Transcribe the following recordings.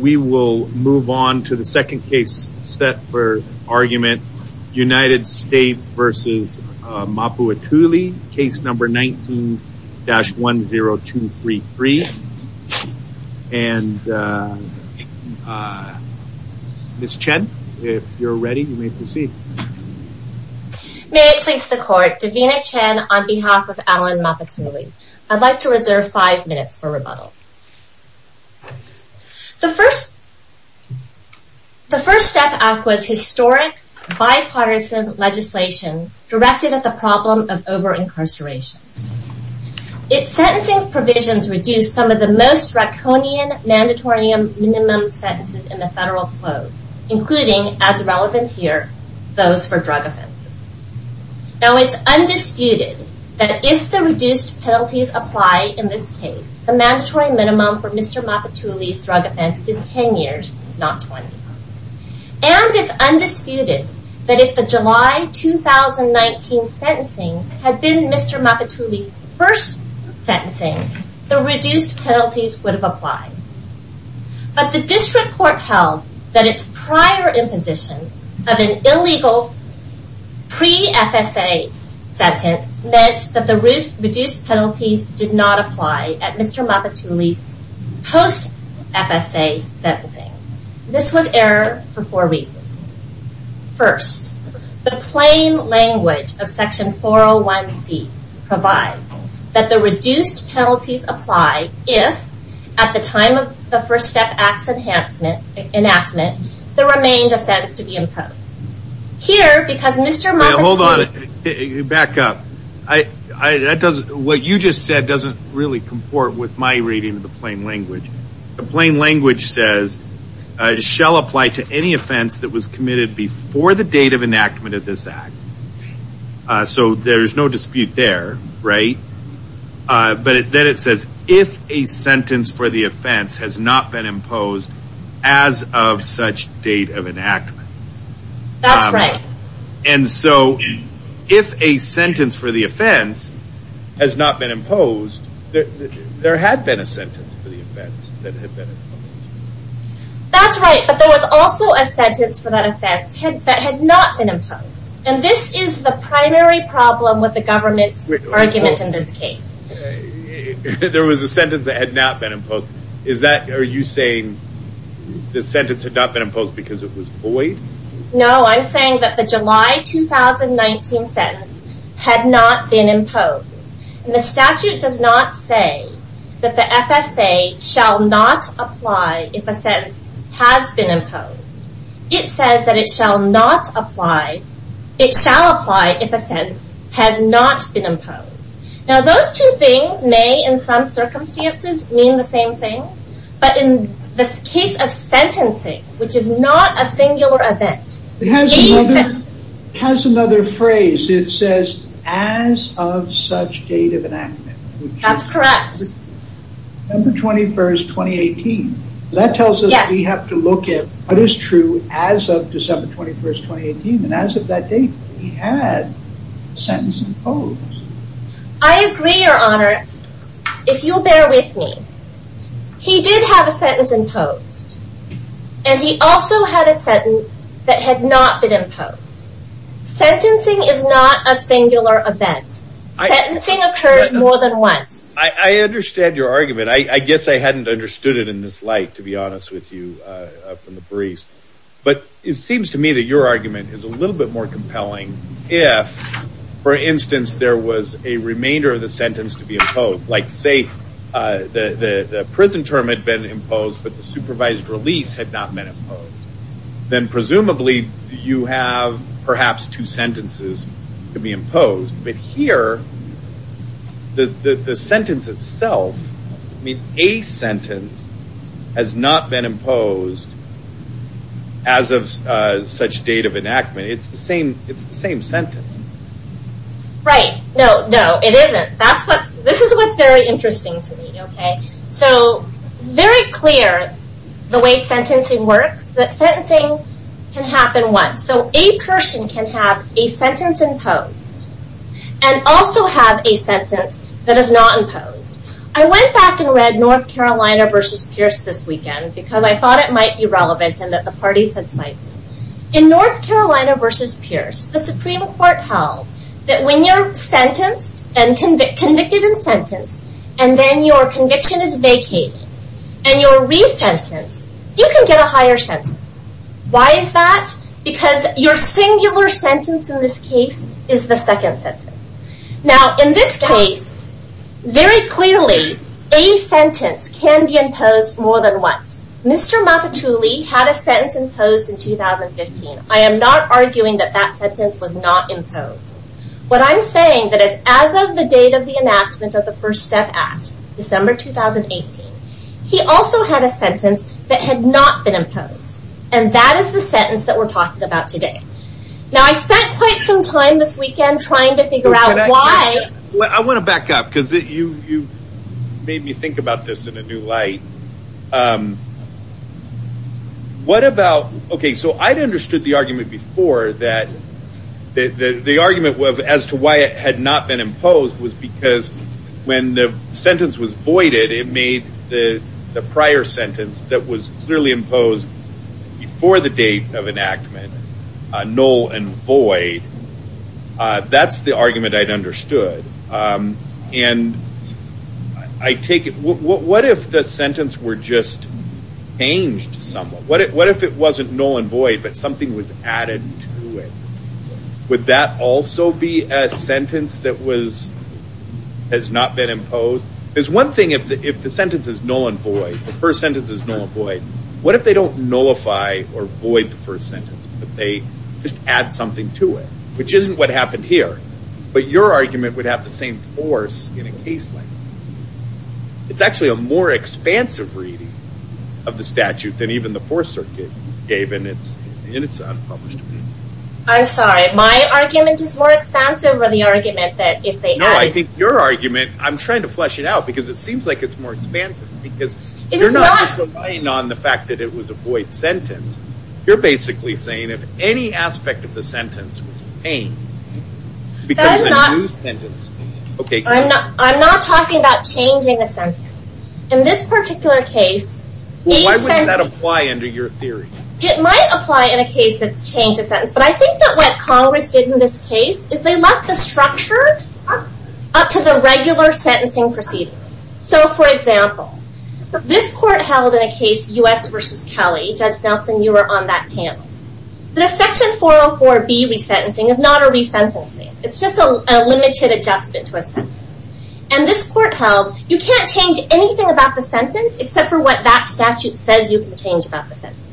We will move on to the second case set for argument United States v. Mapuatuli case number 19-10233 and Miss Chen if you're ready you may proceed. May it please the court, Davina Chen on behalf of Alan Mapuatuli. I'd like to The first step act was historic bipartisan legislation directed at the problem of over-incarceration. Its sentencing provisions reduced some of the most draconian mandatory minimum sentences in the federal code, including as relevant here, those for drug offenses. Now it's undisputed that if the reduced penalties apply in this case, the mandatory minimum for Mr. Mapuatuli's drug offense is 10 years, not 20. And it's undisputed that if the July 2019 sentencing had been Mr. Mapuatuli's first sentencing, the reduced penalties would have applied. But the district court held that its prior imposition of an illegal pre-FSA sentence meant that the reduced penalties did not apply at Mr. Mapuatuli's post-FSA sentencing. This was error for four reasons. First, the plain language of section 401C provides that the reduced penalties apply if at the time of the first step act's enactment there remained a sentence to be imposed. Here, because Mr. Mapuatuli Hold on. Back up. What you just said doesn't really comport with my reading of the plain language. The plain language says, shall apply to any offense that was committed before the date of enactment of this act. So there's no dispute there, right? But then it says, if a sentence for the offense has not been imposed as of such date of enactment. That's right. And so if a sentence for the offense has not been imposed, there had been a sentence for the offense that had been imposed. That's right, but there was also a sentence for that offense that had not been imposed. And this is the primary problem with the government's argument in this case. There was a sentence that had not been imposed. Is that, are you saying the sentence had not been imposed because it was void? No, I'm saying that the July 2019 sentence had not been imposed. The statute does not say that the FSA shall not apply if a sentence has been imposed. It says that it shall not apply, it shall apply if a sentence has not been imposed. Now those two things may in some circumstances mean the same thing, but in the case of sentencing, which is not a singular event. It has another phrase. It says as of such date of enactment. That's correct. December 21st, 2018. That tells us we have to look at what is true as of December 21st, 2018. And as of that date, we had a sentence imposed. I agree, Your Honor. If you'll bear with me, he did have a sentence imposed. And he also had a sentence that had not been imposed. Sentencing is not a singular event. Sentencing occurs more than once. I understand your argument. I guess I hadn't understood it in this light, to be honest with you from the briefs. But it seems to me that your argument is a little bit more compelling if, for instance, there was a remainder of the sentence to be imposed. Like say the prison term had been imposed, but the supervised release had not been imposed. Then presumably, you have perhaps two sentences to be imposed. But here, the sentence itself, I mean, a sentence has not been imposed as of such date of enactment. It's the same sentence. Right. No, no, it isn't. This is what's very interesting to me, okay? So it's very clear the way sentencing works, that sentencing can happen once. So a person can have a sentence imposed and also have a sentence that is not imposed. I went back and read North Carolina versus Pierce this weekend because I thought it might be relevant and that the parties had signed. In North Carolina versus Pierce, the Supreme Court held that when you're sentenced and convicted and sentenced, and then your conviction is vacated and you're re-sentenced, you can get a higher sentence. Why is that? Because your singular sentence in this case is the second sentence. Now in this case, very clearly, a sentence can be imposed more than once. Mr. Mapatuli had a sentence imposed in 2015. I am not arguing that that sentence was not imposed. What I'm saying that as of the date of the enactment of the First Step Act, December 2018, he also had a sentence that had not been imposed. And that is the sentence that we're talking about today. Now I spent quite some time this weekend trying to figure out why. I want to back up because you made me think about this in a new light. Okay, so I'd understood the argument before that the argument as to why it had not been imposed was because when the sentence was voided, it made the prior sentence that was clearly imposed before the date of enactment null and void. That's the argument I'd understood. And I take it, what if the sentence were just changed somewhat? What if it wasn't null and void, but something was added to it? Would that also be a sentence that has not been imposed? There's one thing if the sentence is null and void, the first sentence is null and void, what if they don't nullify or void the first sentence, but they just add something to it, which isn't what happened here. But your argument would have the same force in a case like that. It's actually a more expansive reading of the statute than even the Fourth Circuit gave in its unpublished opinion. I'm sorry, my argument is more expansive than the argument that if they had... No, I think your argument, I'm trying to flesh it out because it seems like it's more expansive because you're not just relying on the fact that it was a void sentence. You're basically saying if any aspect of the sentence was changed, because the new sentence... I'm not talking about changing the sentence. In this particular case... Why wouldn't that apply under your theory? It might apply in a case that's changed a sentence, but I think that what Congress did in this case is they left the structure up to the regular sentencing proceedings. So for example, this court held in a case U.S. v. Kelly, Judge Nelson, you were on that panel. The Section 404B resentencing is not a resentencing. It's just a limited adjustment to a sentence. And this court held you can't change anything about the sentence except for what that statute says you can change about the sentence.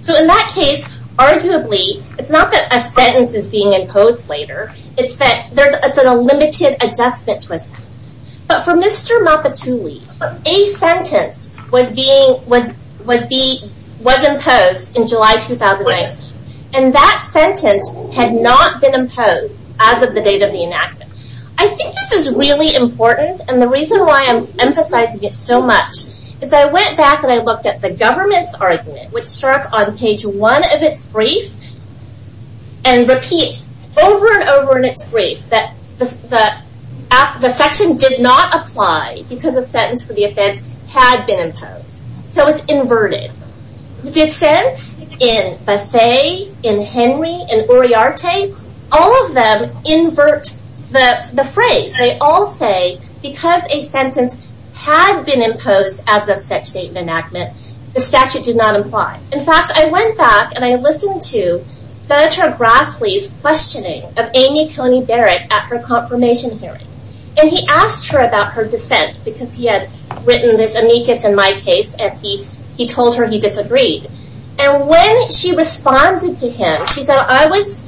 So in that case, arguably, it's not that a sentence is being imposed later. It's that there's a limited adjustment to a sentence. But for Mr. And that sentence had not been imposed as of the date of the enactment. I think this is really important. And the reason why I'm emphasizing it so much is I went back and I looked at the government's argument, which starts on page one of its brief and repeats over and over in its brief that the section did not apply because a sentence had been imposed. So it's inverted. The dissents in Bethea, in Henry, in Uriarte, all of them invert the phrase. They all say because a sentence had been imposed as of such date of enactment, the statute did not apply. In fact, I went back and I listened to Senator Grassley's questioning of Amy Coney Barrett at her confirmation hearing. And he asked her about her dissent because he had written this amicus in my case and he told her he disagreed. And when she responded to him, she said, I was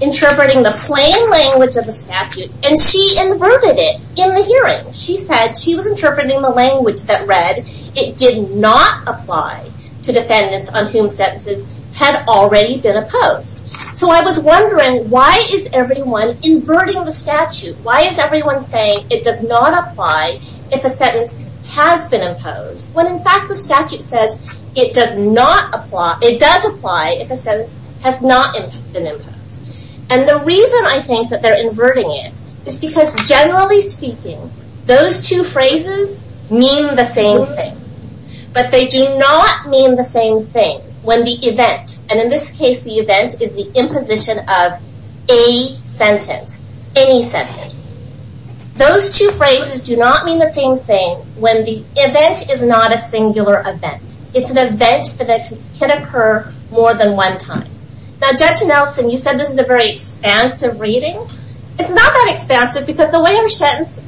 interpreting the plain language of the statute and she inverted it in the hearing. She said she was interpreting the language that read, it did not apply to defendants on whom sentences had already been imposed. So I was wondering, why is everyone inverting the statute? Why is everyone saying it does not apply if a sentence has been imposed when in fact the statute says it does not apply, it does apply if a sentence has not been imposed. And the reason I think that they're inverting it is because generally speaking, those two phrases mean the same thing, but they do not mean the same thing when the event, and in this case the event is the imposition of a sentence, any sentence. Those two phrases do not mean the same thing when the event is not a singular event. It's an event that can occur more than one time. Now Judge Nelson, you said this is a very expansive reading. It's not that expansive because the way our sentence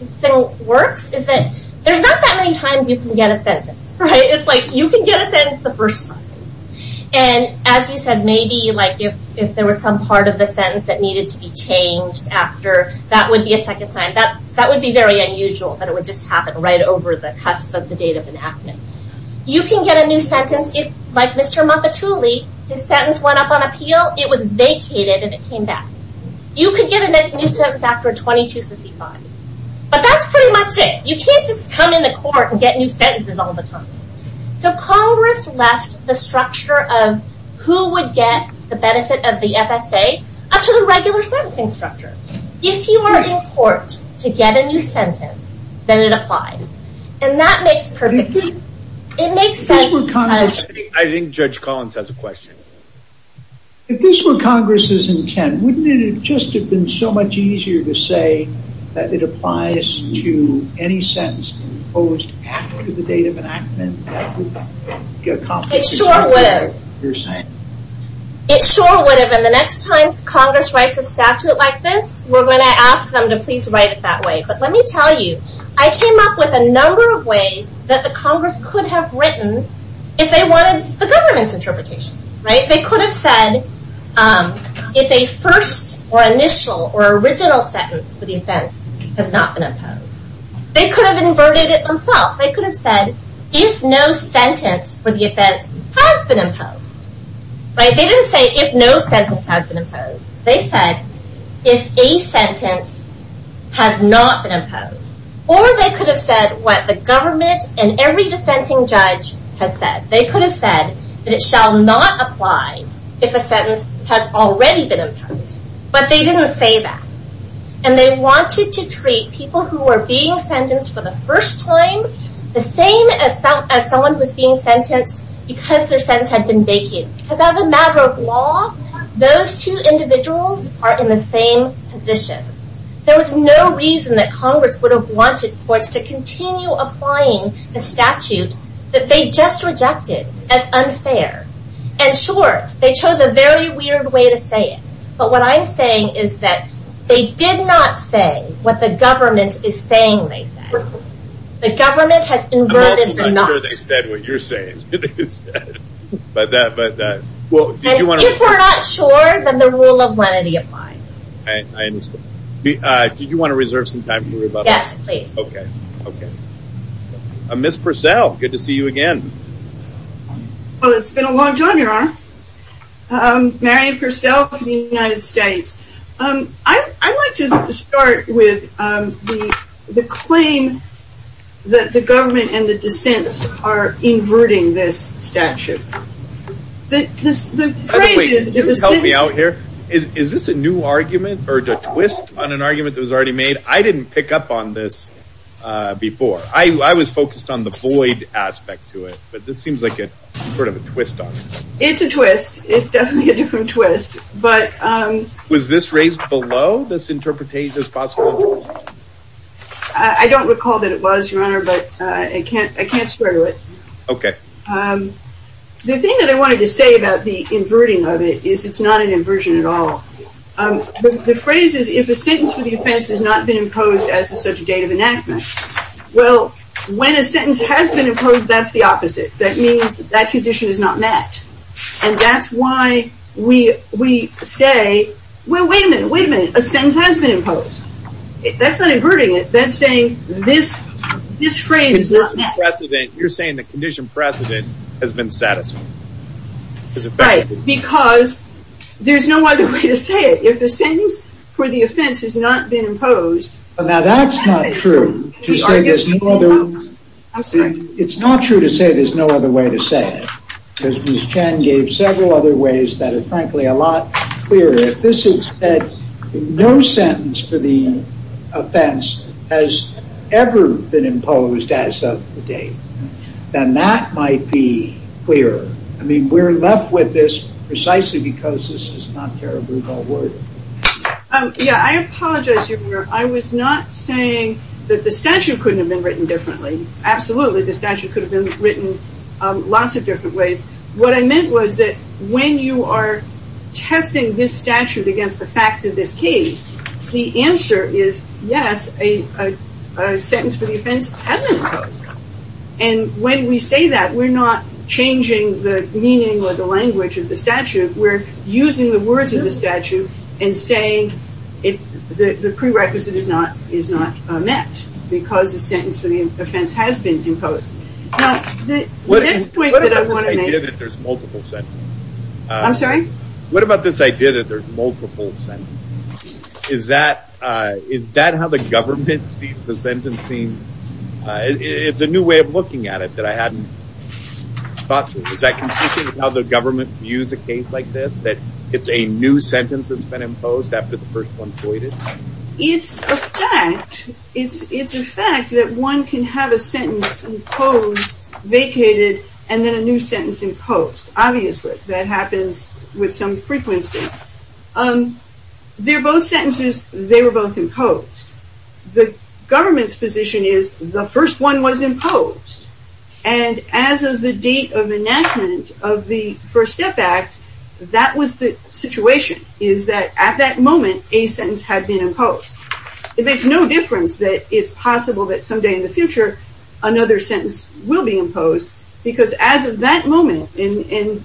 works is that there's not that many times you can get a sentence. It's like you can get a sentence the first time. And as you said, maybe if there was some part of the sentence that needed to be changed after, that would be a second time. That would be very unusual, that it would just happen right over the cusp of the date of enactment. You can get a new sentence if, like Mr. Mappatulli, his sentence went up on appeal, it was vacated and it came back. You could get a new sentence after 2255. But that's pretty much it. You can't just come in the court and get new sentences all the time. So Congress left the structure of who would get the benefit of the FSA up to the regular sentencing structure. If you are in court to get a new sentence, then it applies. And that makes perfect sense. I think Judge Collins has a question. If this were Congress's intent, wouldn't it just have been so much easier to say that it applies to any sentence proposed after the date of enactment? It sure would have. And the next time Congress writes a statute like this, we're going to ask them to please write it that way. But let me tell you, I came up with a number of ways that the Congress could have written if they wanted the government's interpretation. They could have said if a first or initial or original sentence for the offense has not been imposed. They could have inverted it themselves. They could have said if no sentence for the offense has been imposed. They didn't say if no sentence has been imposed. They said if a sentence has not been imposed. Or they could have said what the government and every dissenting judge has said. They could have it shall not apply if a sentence has already been imposed. But they didn't say that. And they wanted to treat people who were being sentenced for the first time the same as someone who was being sentenced because their sentence had been vacated. Because as a matter of law, those two individuals are in the same position. There was no reason that Congress would have wanted courts to continue applying the statute that they just rejected as unfair. And sure, they chose a very weird way to say it. But what I'm saying is that they did not say what the government is saying they said. The government has inverted the not. I'm not sure they said what you're saying. If we're not sure, then the rule of lenity applies. Did you want to reserve some time for me? Yes, please. Okay. Miss Purcell, good to see you again. Well, it's been a long time, Your Honor. Mary Purcell from the United States. I'd like to start with the claim that the government and the dissents are inverting this statute. Can you help me out here? Is this a new argument or a twist on an argument that was already made? I didn't pick up on this before. I was focused on the void aspect to it. But this seems like a sort of a twist on it. It's a twist. It's definitely a different twist. But was this raised below this interpretation as possible? I don't recall that it was, Your Honor, but I can't swear to it. Okay. The thing that I wanted to say about the inverting of it is it's not an inversion at all. The phrase is if a sentence for the offense has not been imposed as such a date of enactment. Well, when a sentence has been imposed, that's the opposite. That means that condition is not met. And that's why we say, well, wait a minute, wait a minute. A sentence has been imposed. That's not inverting it. That's saying this phrase is not met. You're saying the condition precedent has been satisfied. Right. Because there's no other way to say it. If the sentence for the offense has not been imposed. Now, that's not true. It's not true to say there's no other way to say it. Because Ms. Chen gave several other ways that are frankly a lot clearer. If this is that no sentence for the offense has ever been imposed as of the date, then that might be clearer. I mean, we're left with this precisely because this is not terribly well worded. Yeah, I apologize. I was not saying that the statute couldn't have been written differently. Absolutely. The statute could have been written lots of different ways. What I meant was that when you are testing this statute against the facts of this case, the answer is yes, a sentence for the offense has been imposed. And when we say that, we're not changing the meaning or the language of the statute. We're using the words of the statute and saying the prerequisite is not met. Because the sentence for the offense has been imposed. Now, the next point that I want to make. What about this idea that there's multiple sentences? I'm sorry? What about this idea that there's multiple sentences? Is that how the government sees the sentencing? It's a new way of looking at it that I hadn't thought through. Is that consistent with how the government views a case like this? That it's a new sentence that's been imposed after the first one's voided? It's a fact. It's a fact that one can have a sentence imposed, vacated, and then a new sentence imposed. Obviously, that happens with some frequency. They're both sentences. They were both imposed. The government's position is the first one was imposed. And as of the date of enactment of the First Step Act, that was the situation. Is that at that moment, a sentence had been imposed. It makes no difference that it's possible that someday in the future, another sentence will be imposed. Because as of that moment, and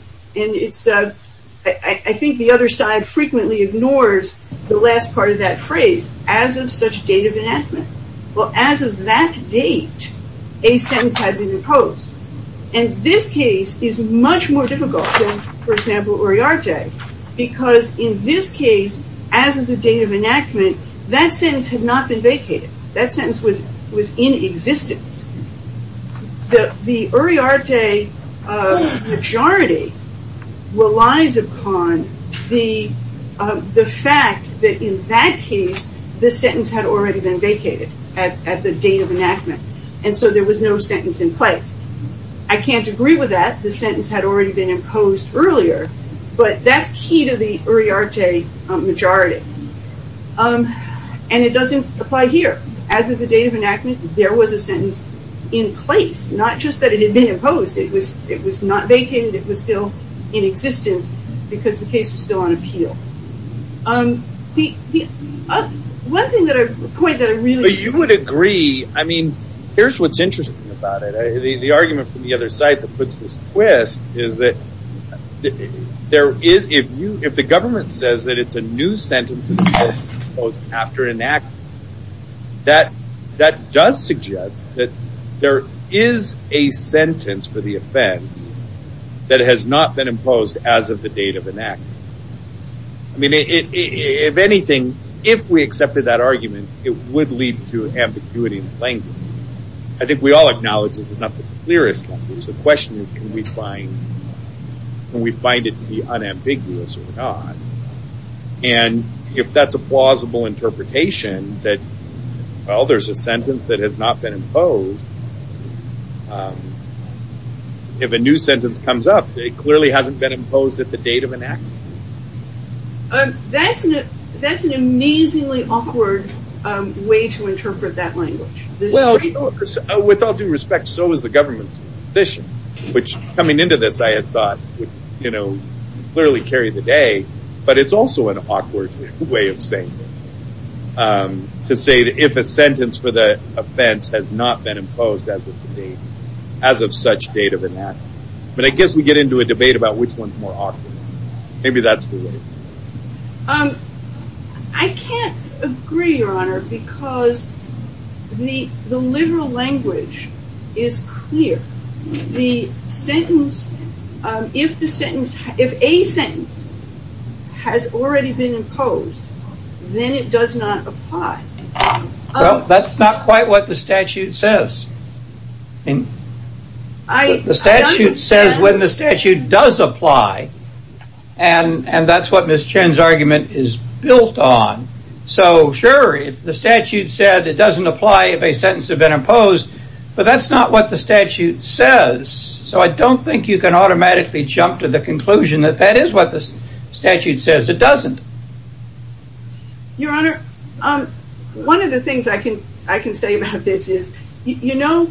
I think the other side frequently ignores the last part of that phrase, as of such date of enactment. Well, as of that date, a sentence had been imposed. And this case is much more difficult than, for example, Uriarte. Because in this case, as of the date of enactment, that sentence had not been vacated. That sentence was in existence. The Uriarte majority relies upon the fact that in that case, the sentence had already been vacated at the date of enactment. And so there was no sentence in place. I can't agree with that. The sentence had already been imposed earlier. But that's key to the Uriarte majority. And it doesn't apply here. As of the date of enactment, there was a sentence in place. Not just that it had been imposed. It was not vacated. It was still in existence. Because the case was still on appeal. One thing that I really... But you would agree. I mean, here's what's interesting about it. The argument from the other side that puts this twist is that there is, if you, if the government says that it's a new sentence imposed after enactment, that does suggest that there is a sentence for the offense that has not been imposed as of the date of enactment. I mean, if anything, if we accepted that argument, it would lead to ambiguity in the language. I think we all acknowledge it's not the clearest language. The question is, can we find it to be unambiguous or not? And if that's a plausible interpretation, that, well, there's a sentence that has not been imposed. If a new sentence comes up, it clearly hasn't been imposed at the date of enactment. That's an amazingly awkward way to interpret that language. With all due respect, so is the government's position. Which, coming into this, I had thought would clearly carry the day. But it's also an awkward way of saying, to say that if a sentence for the offense has not been imposed as of the date, as of such date of enactment. But I guess we get into a debate about which one's more awkward. Maybe that's the way. I can't agree, Your Honor, because the, the literal language is clear. The sentence, if the sentence, if a sentence has already been imposed, then it does not apply. Well, that's not quite what the statute says. The statute says when the statute does apply. And that's what Ms. Chen's argument is built on. So sure, if the statute said it doesn't apply if a sentence had been imposed. But that's not what the statute says. So I don't think you can automatically jump to the conclusion that that is what the statute says it doesn't. Your Honor, one of the things I can, I can say about this is, you know,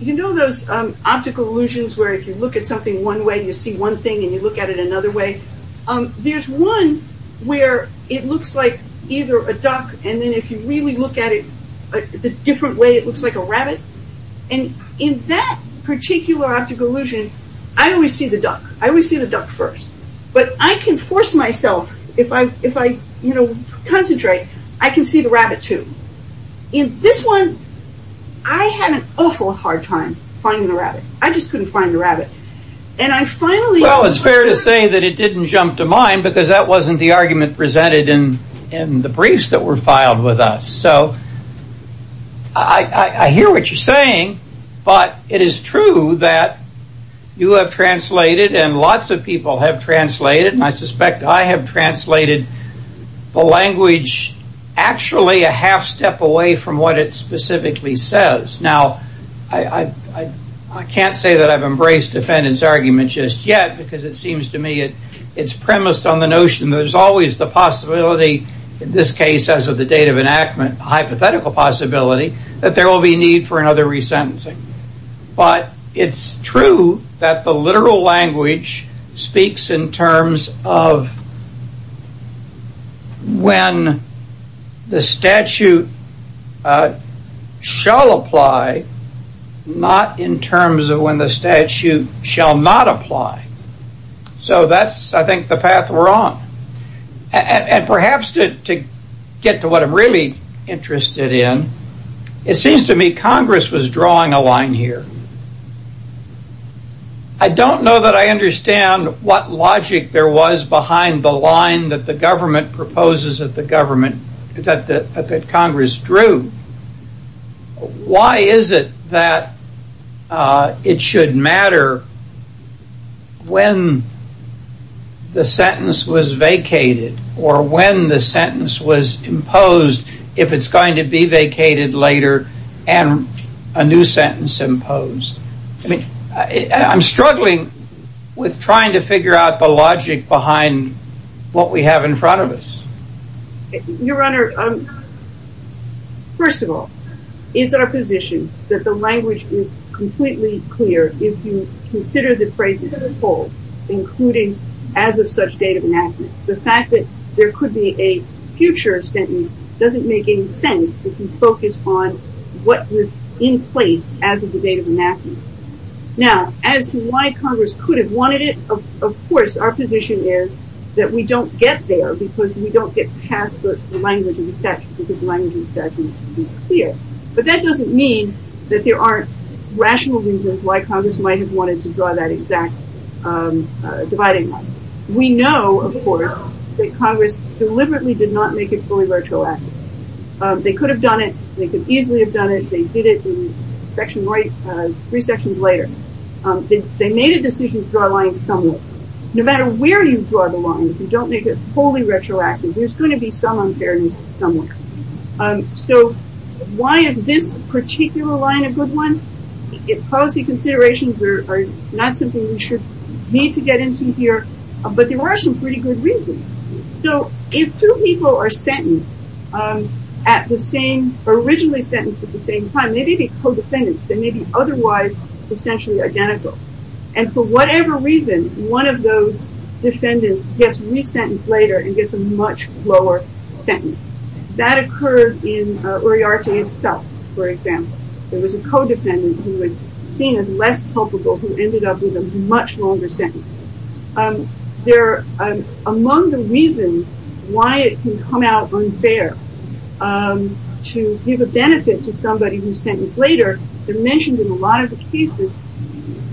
you know, those optical illusions where if you look at something one way, you see one thing and you look at it another way. There's one where it looks like either a duck. And then if you really look at it the different way, it looks like a rabbit. And in that particular optical illusion, I always see the duck. I always see the duck first. But I can force myself, if I, if I, you know, concentrate, I can see the rabbit too. In this one, I had an awful hard time finding the rabbit. I just couldn't find the rabbit. And I finally... Well, it's fair to say that it didn't jump to mine because that wasn't the argument presented in the briefs that were filed with us. So I hear what you're saying. But it is true that you have translated and lots of people have translated. And I suspect I have translated the language actually a half step away from what it specifically says. Now, I can't say that I've embraced defendant's argument just yet because it seems to me it's premised on the notion there's always the possibility, in this case, as of the date of enactment, a hypothetical possibility that there will be a need for another resentencing. But it's true that the literal language speaks in terms of when the statute shall apply, not in terms of when the statute shall not apply. So that's, I think, the path we're on. And perhaps to get to what I'm really interested in, it seems to me Congress was drawing a line here. I don't know that I understand what logic there was behind the line that the government proposes that the government, that Congress drew. And why is it that it should matter when the sentence was vacated or when the sentence was imposed if it's going to be vacated later and a new sentence imposed? I'm struggling with trying to figure out the logic behind what we have in front of us. Your Honor, first of all, it's our position that the language is completely clear if you consider the phrase withhold, including as of such date of enactment. The fact that there could be a future sentence doesn't make any sense if you focus on what was in place as of the date of enactment. Now, as to why Congress could have wanted it, of course, our position is that we don't get there because we don't get past the language of the statute, because the language of the statute is clear. But that doesn't mean that there aren't rational reasons why Congress might have wanted to draw that exact dividing line. We know, of course, that Congress deliberately did not make it fully virtuous. They could have done it. They could easily have done it. They did it in section right, three sections later. They made a decision to draw a line somewhere. No matter where you draw the line, if you don't make it fully retroactive, there's going to be some unfairness somewhere. So why is this particular line a good one? Policy considerations are not something we should need to get into here, but there are some pretty good reasons. So if two people are sentenced at the same, originally sentenced at the same time, they may be co-defendants. They may be otherwise essentially identical. And for whatever reason, one of those defendants gets re-sentenced later and gets a much lower sentence. That occurred in Uriarte and Stuck, for example. There was a co-defendant who was seen as less culpable, who ended up with a much longer sentence. They're among the reasons why it can come out unfair to give a benefit to somebody who's sentenced later. They're mentioned in a lot of the cases.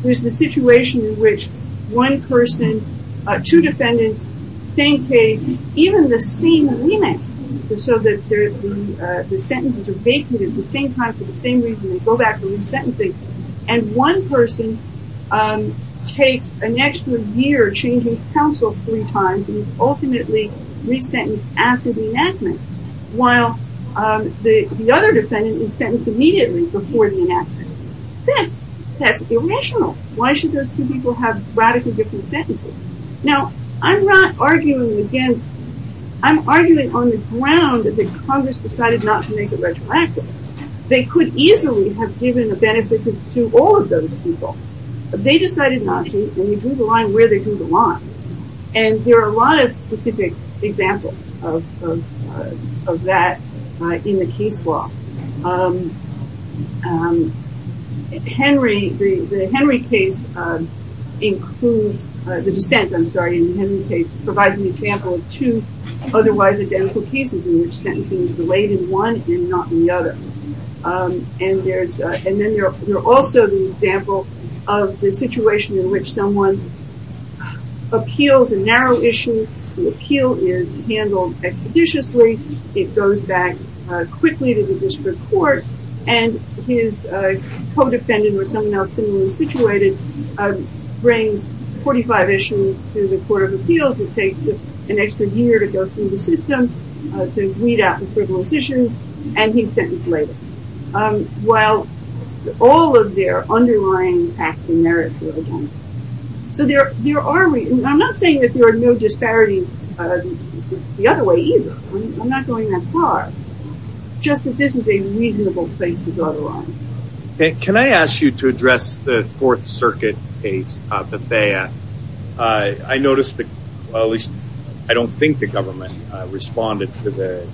There's the situation in which one person, two defendants, same case, even the same remand, so that the sentences are vacated at the same time for the same reason. They go back to re-sentencing, and one person takes an extra year changing counsel three times and is ultimately re-sentenced after the enactment, while the other defendant is re-sentenced after the enactment. That's irrational. Why should those two people have radically different sentences? Now, I'm not arguing against, I'm arguing on the ground that Congress decided not to make it retroactive. They could easily have given a benefit to all of those people, but they decided not to, and they drew the line where they drew the line. And there are a lot of specific examples of that in the case law. The Henry case includes, the dissent, I'm sorry, in the Henry case provides an example of two otherwise identical cases in which sentencing is delayed in one and not the other. And then there's also the example of the situation in which someone appeals a narrow issue, the appeal is handled expeditiously, it goes back quickly to the district court, and his co-defendant or someone else similarly situated brings 45 issues to the court of appeals, it takes an extra year to go through the system, to weed out the frivolous issues, and he's sentenced later. While all of their underlying facts and merits are identical. So there are, I'm not saying that there are no disparities the other way either, I'm saying there's a reasonable place to draw the line. Can I ask you to address the Fourth Circuit case, Bethea? I noticed, at least I don't think the government responded to the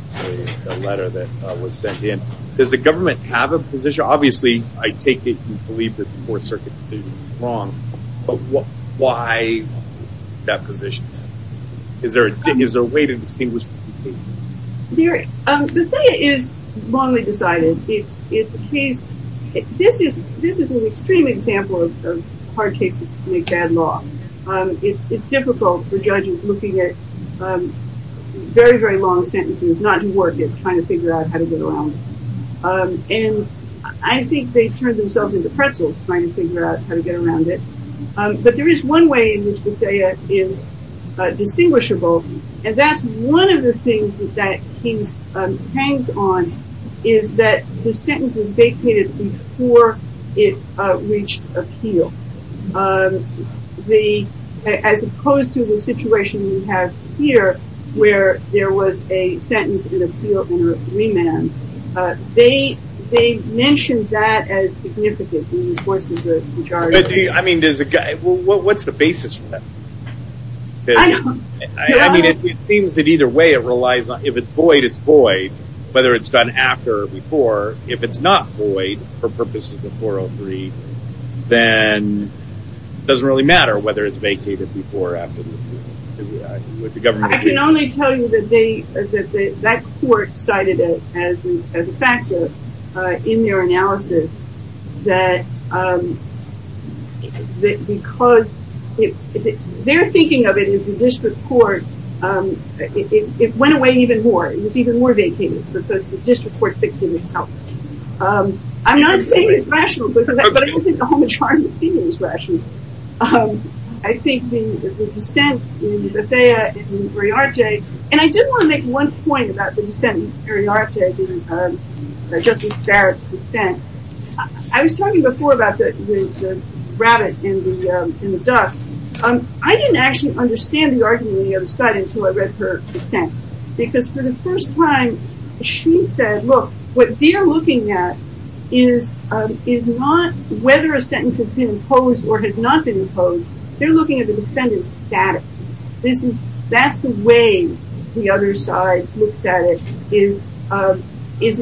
letter that was sent in. Does the government have a position? Obviously, I take it you believe that the Fourth Circuit decision is wrong, but why that position? Is there a way to distinguish between cases? There, Bethea is wrongly decided. It's a case, this is an extreme example of hard cases to make bad law. It's difficult for judges looking at very, very long sentences, not to work it, trying to figure out how to get around. And I think they turned themselves into pretzels trying to figure out how to get around it. But there is one way in which Bethea is distinguishable. And that's one of the things that that case hangs on, is that the sentence was vacated before it reached appeal. As opposed to the situation we have here, where there was a sentence in appeal and a remand. They mentioned that as significant in the enforcement of the majority. I mean, what's the basis for that? I mean, it seems that either way it relies on if it's void, it's void, whether it's done after or before. If it's not void for purposes of 403, then it doesn't really matter whether it's vacated before or after the government. I can only tell you that that court cited it as a factor in their analysis. That because they're thinking of it as the district court, it went away even more. It was even more vacated because the district court fixed it itself. I'm not saying it's rational, but I don't think the whole majority opinion is rational. I think the dissents in Bethea and Uriarte, and I did want to make one point about the dissent in Uriarte and Justice Barrett's dissent. I was talking before about the rabbit and the duck. I didn't actually understand the argument on the other side until I read her dissent because for the first time, she said, look, what they're looking at is not whether a sentence has been imposed or has not been imposed. They're looking at the defendant's status. That's the way the other side looks at it, is the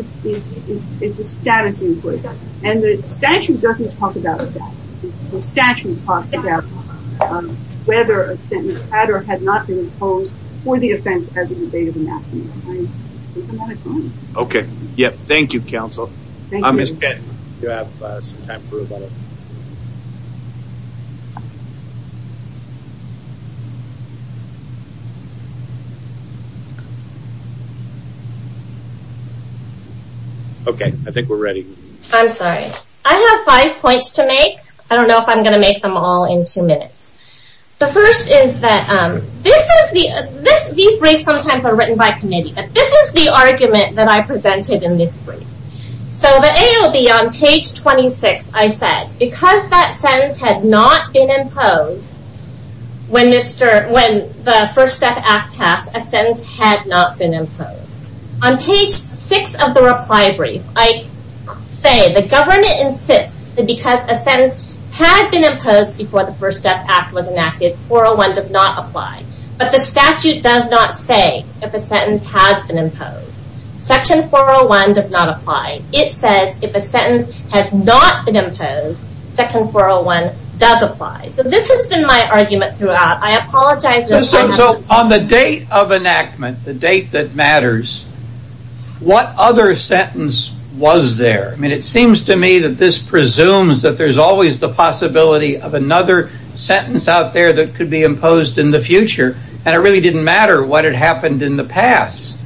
status input. The statute doesn't talk about the status. The statute talks about whether a sentence had or had not been imposed for the offense as a debate of the maximum. Okay. Yep. Thank you, counsel. Okay. I think we're ready. I have five points to make. I don't know if I'm going to make them all in two minutes. The first is that these briefs sometimes are written by committee, but this is the argument that I presented in this brief. So the ALB on page 26, I said, because that sentence had not been imposed when the First Step Act passed, a sentence had not been imposed. On page six of the reply brief, I say the government insists that because a sentence had been imposed before the First Step Act was enacted, 401 does not apply. But the statute does not say if a sentence has been imposed. Section 401 does not apply. It says if a sentence has not been imposed, Section 401 does apply. So this has been my argument throughout. I apologize. On the date of enactment, the date that matters, what other sentence was there? I mean, it seems to me that this presumes that there's always the possibility of another sentence out there that could be imposed in the future. And it really didn't matter what had happened in the past.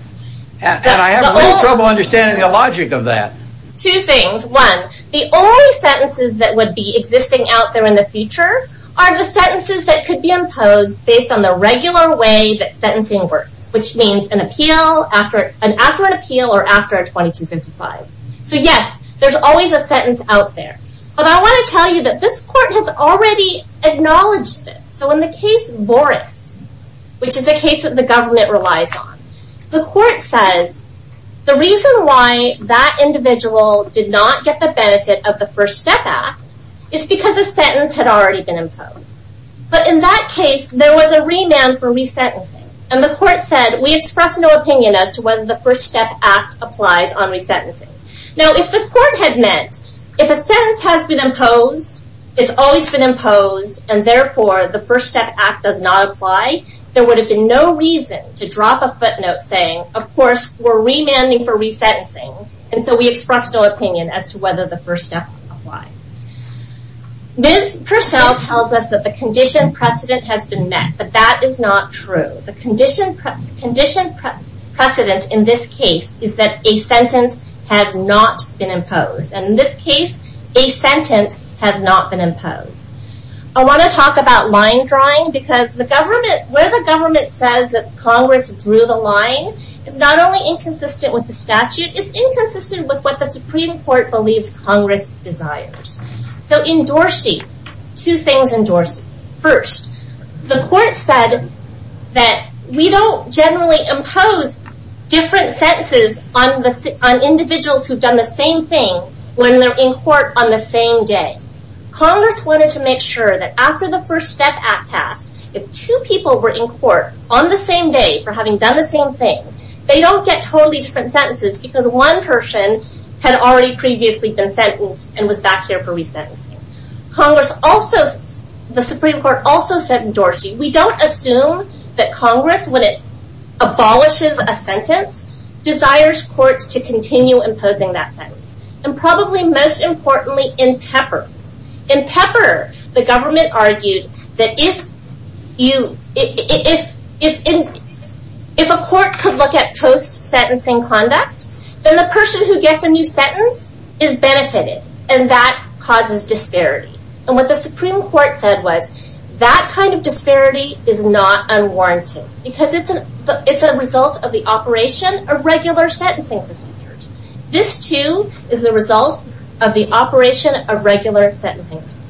And I have trouble understanding the logic of that. Two things. One, the only sentences that would be existing out there in the future are the sentences that could be imposed based on the regular way that sentencing works, which means an appeal, after an appeal, or after a 2255. So yes, there's always a sentence out there. But I want to tell you that this court has already acknowledged this. So in the case Voris, which is a case that the government relies on, the court says the reason why that individual did not get the benefit of the First Step Act is because a sentence had already been imposed. But in that case, there was a remand for resentencing. And the court said, we express no opinion as to whether the First Step Act applies on resentencing. Now, if the court had meant, if a sentence has been imposed, it's always been imposed, and therefore, the First Step Act does not apply, there would have been no reason to drop a footnote saying, of course, we're remanding for resentencing. And so we express no opinion as to whether the First Step Act applies. Ms. Purcell tells us that the condition precedent has been met, but that is not true. The condition precedent in this case is that a sentence has not been imposed. And in this case, a sentence has not been imposed. I want to talk about line drawing, because where the government says that Congress drew the line is not only inconsistent with the statute, it's inconsistent with what the Supreme Court believes Congress desires. So in Dorsey, two things in Dorsey. First, the court said that we don't generally impose different sentences on individuals who've done the same thing when they're in court on the same day. Congress wanted to make sure that after the First Step Act passed, if two people were in court on the same day for having done the same thing, they don't get totally different sentences, because one person had already previously been sentenced and was back here for resentencing. The Supreme Court also said in Dorsey, we don't assume that Congress, when it abolishes a sentence, desires courts to continue imposing that sentence. And probably most importantly, in Pepper. In Pepper, the government argued that if a court could look at post-sentencing conduct, then the person who gets a new sentence is benefited, and that causes disparity. And what the Supreme Court said was, that kind of disparity is not unwarranted, because it's a result of the operation of regular sentencing procedures. This, too, is the result of the operation of regular sentencing procedures.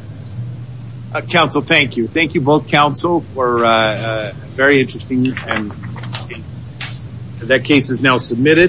Counsel, thank you. Thank you both, counsel, for a very interesting time. That case is now submitted.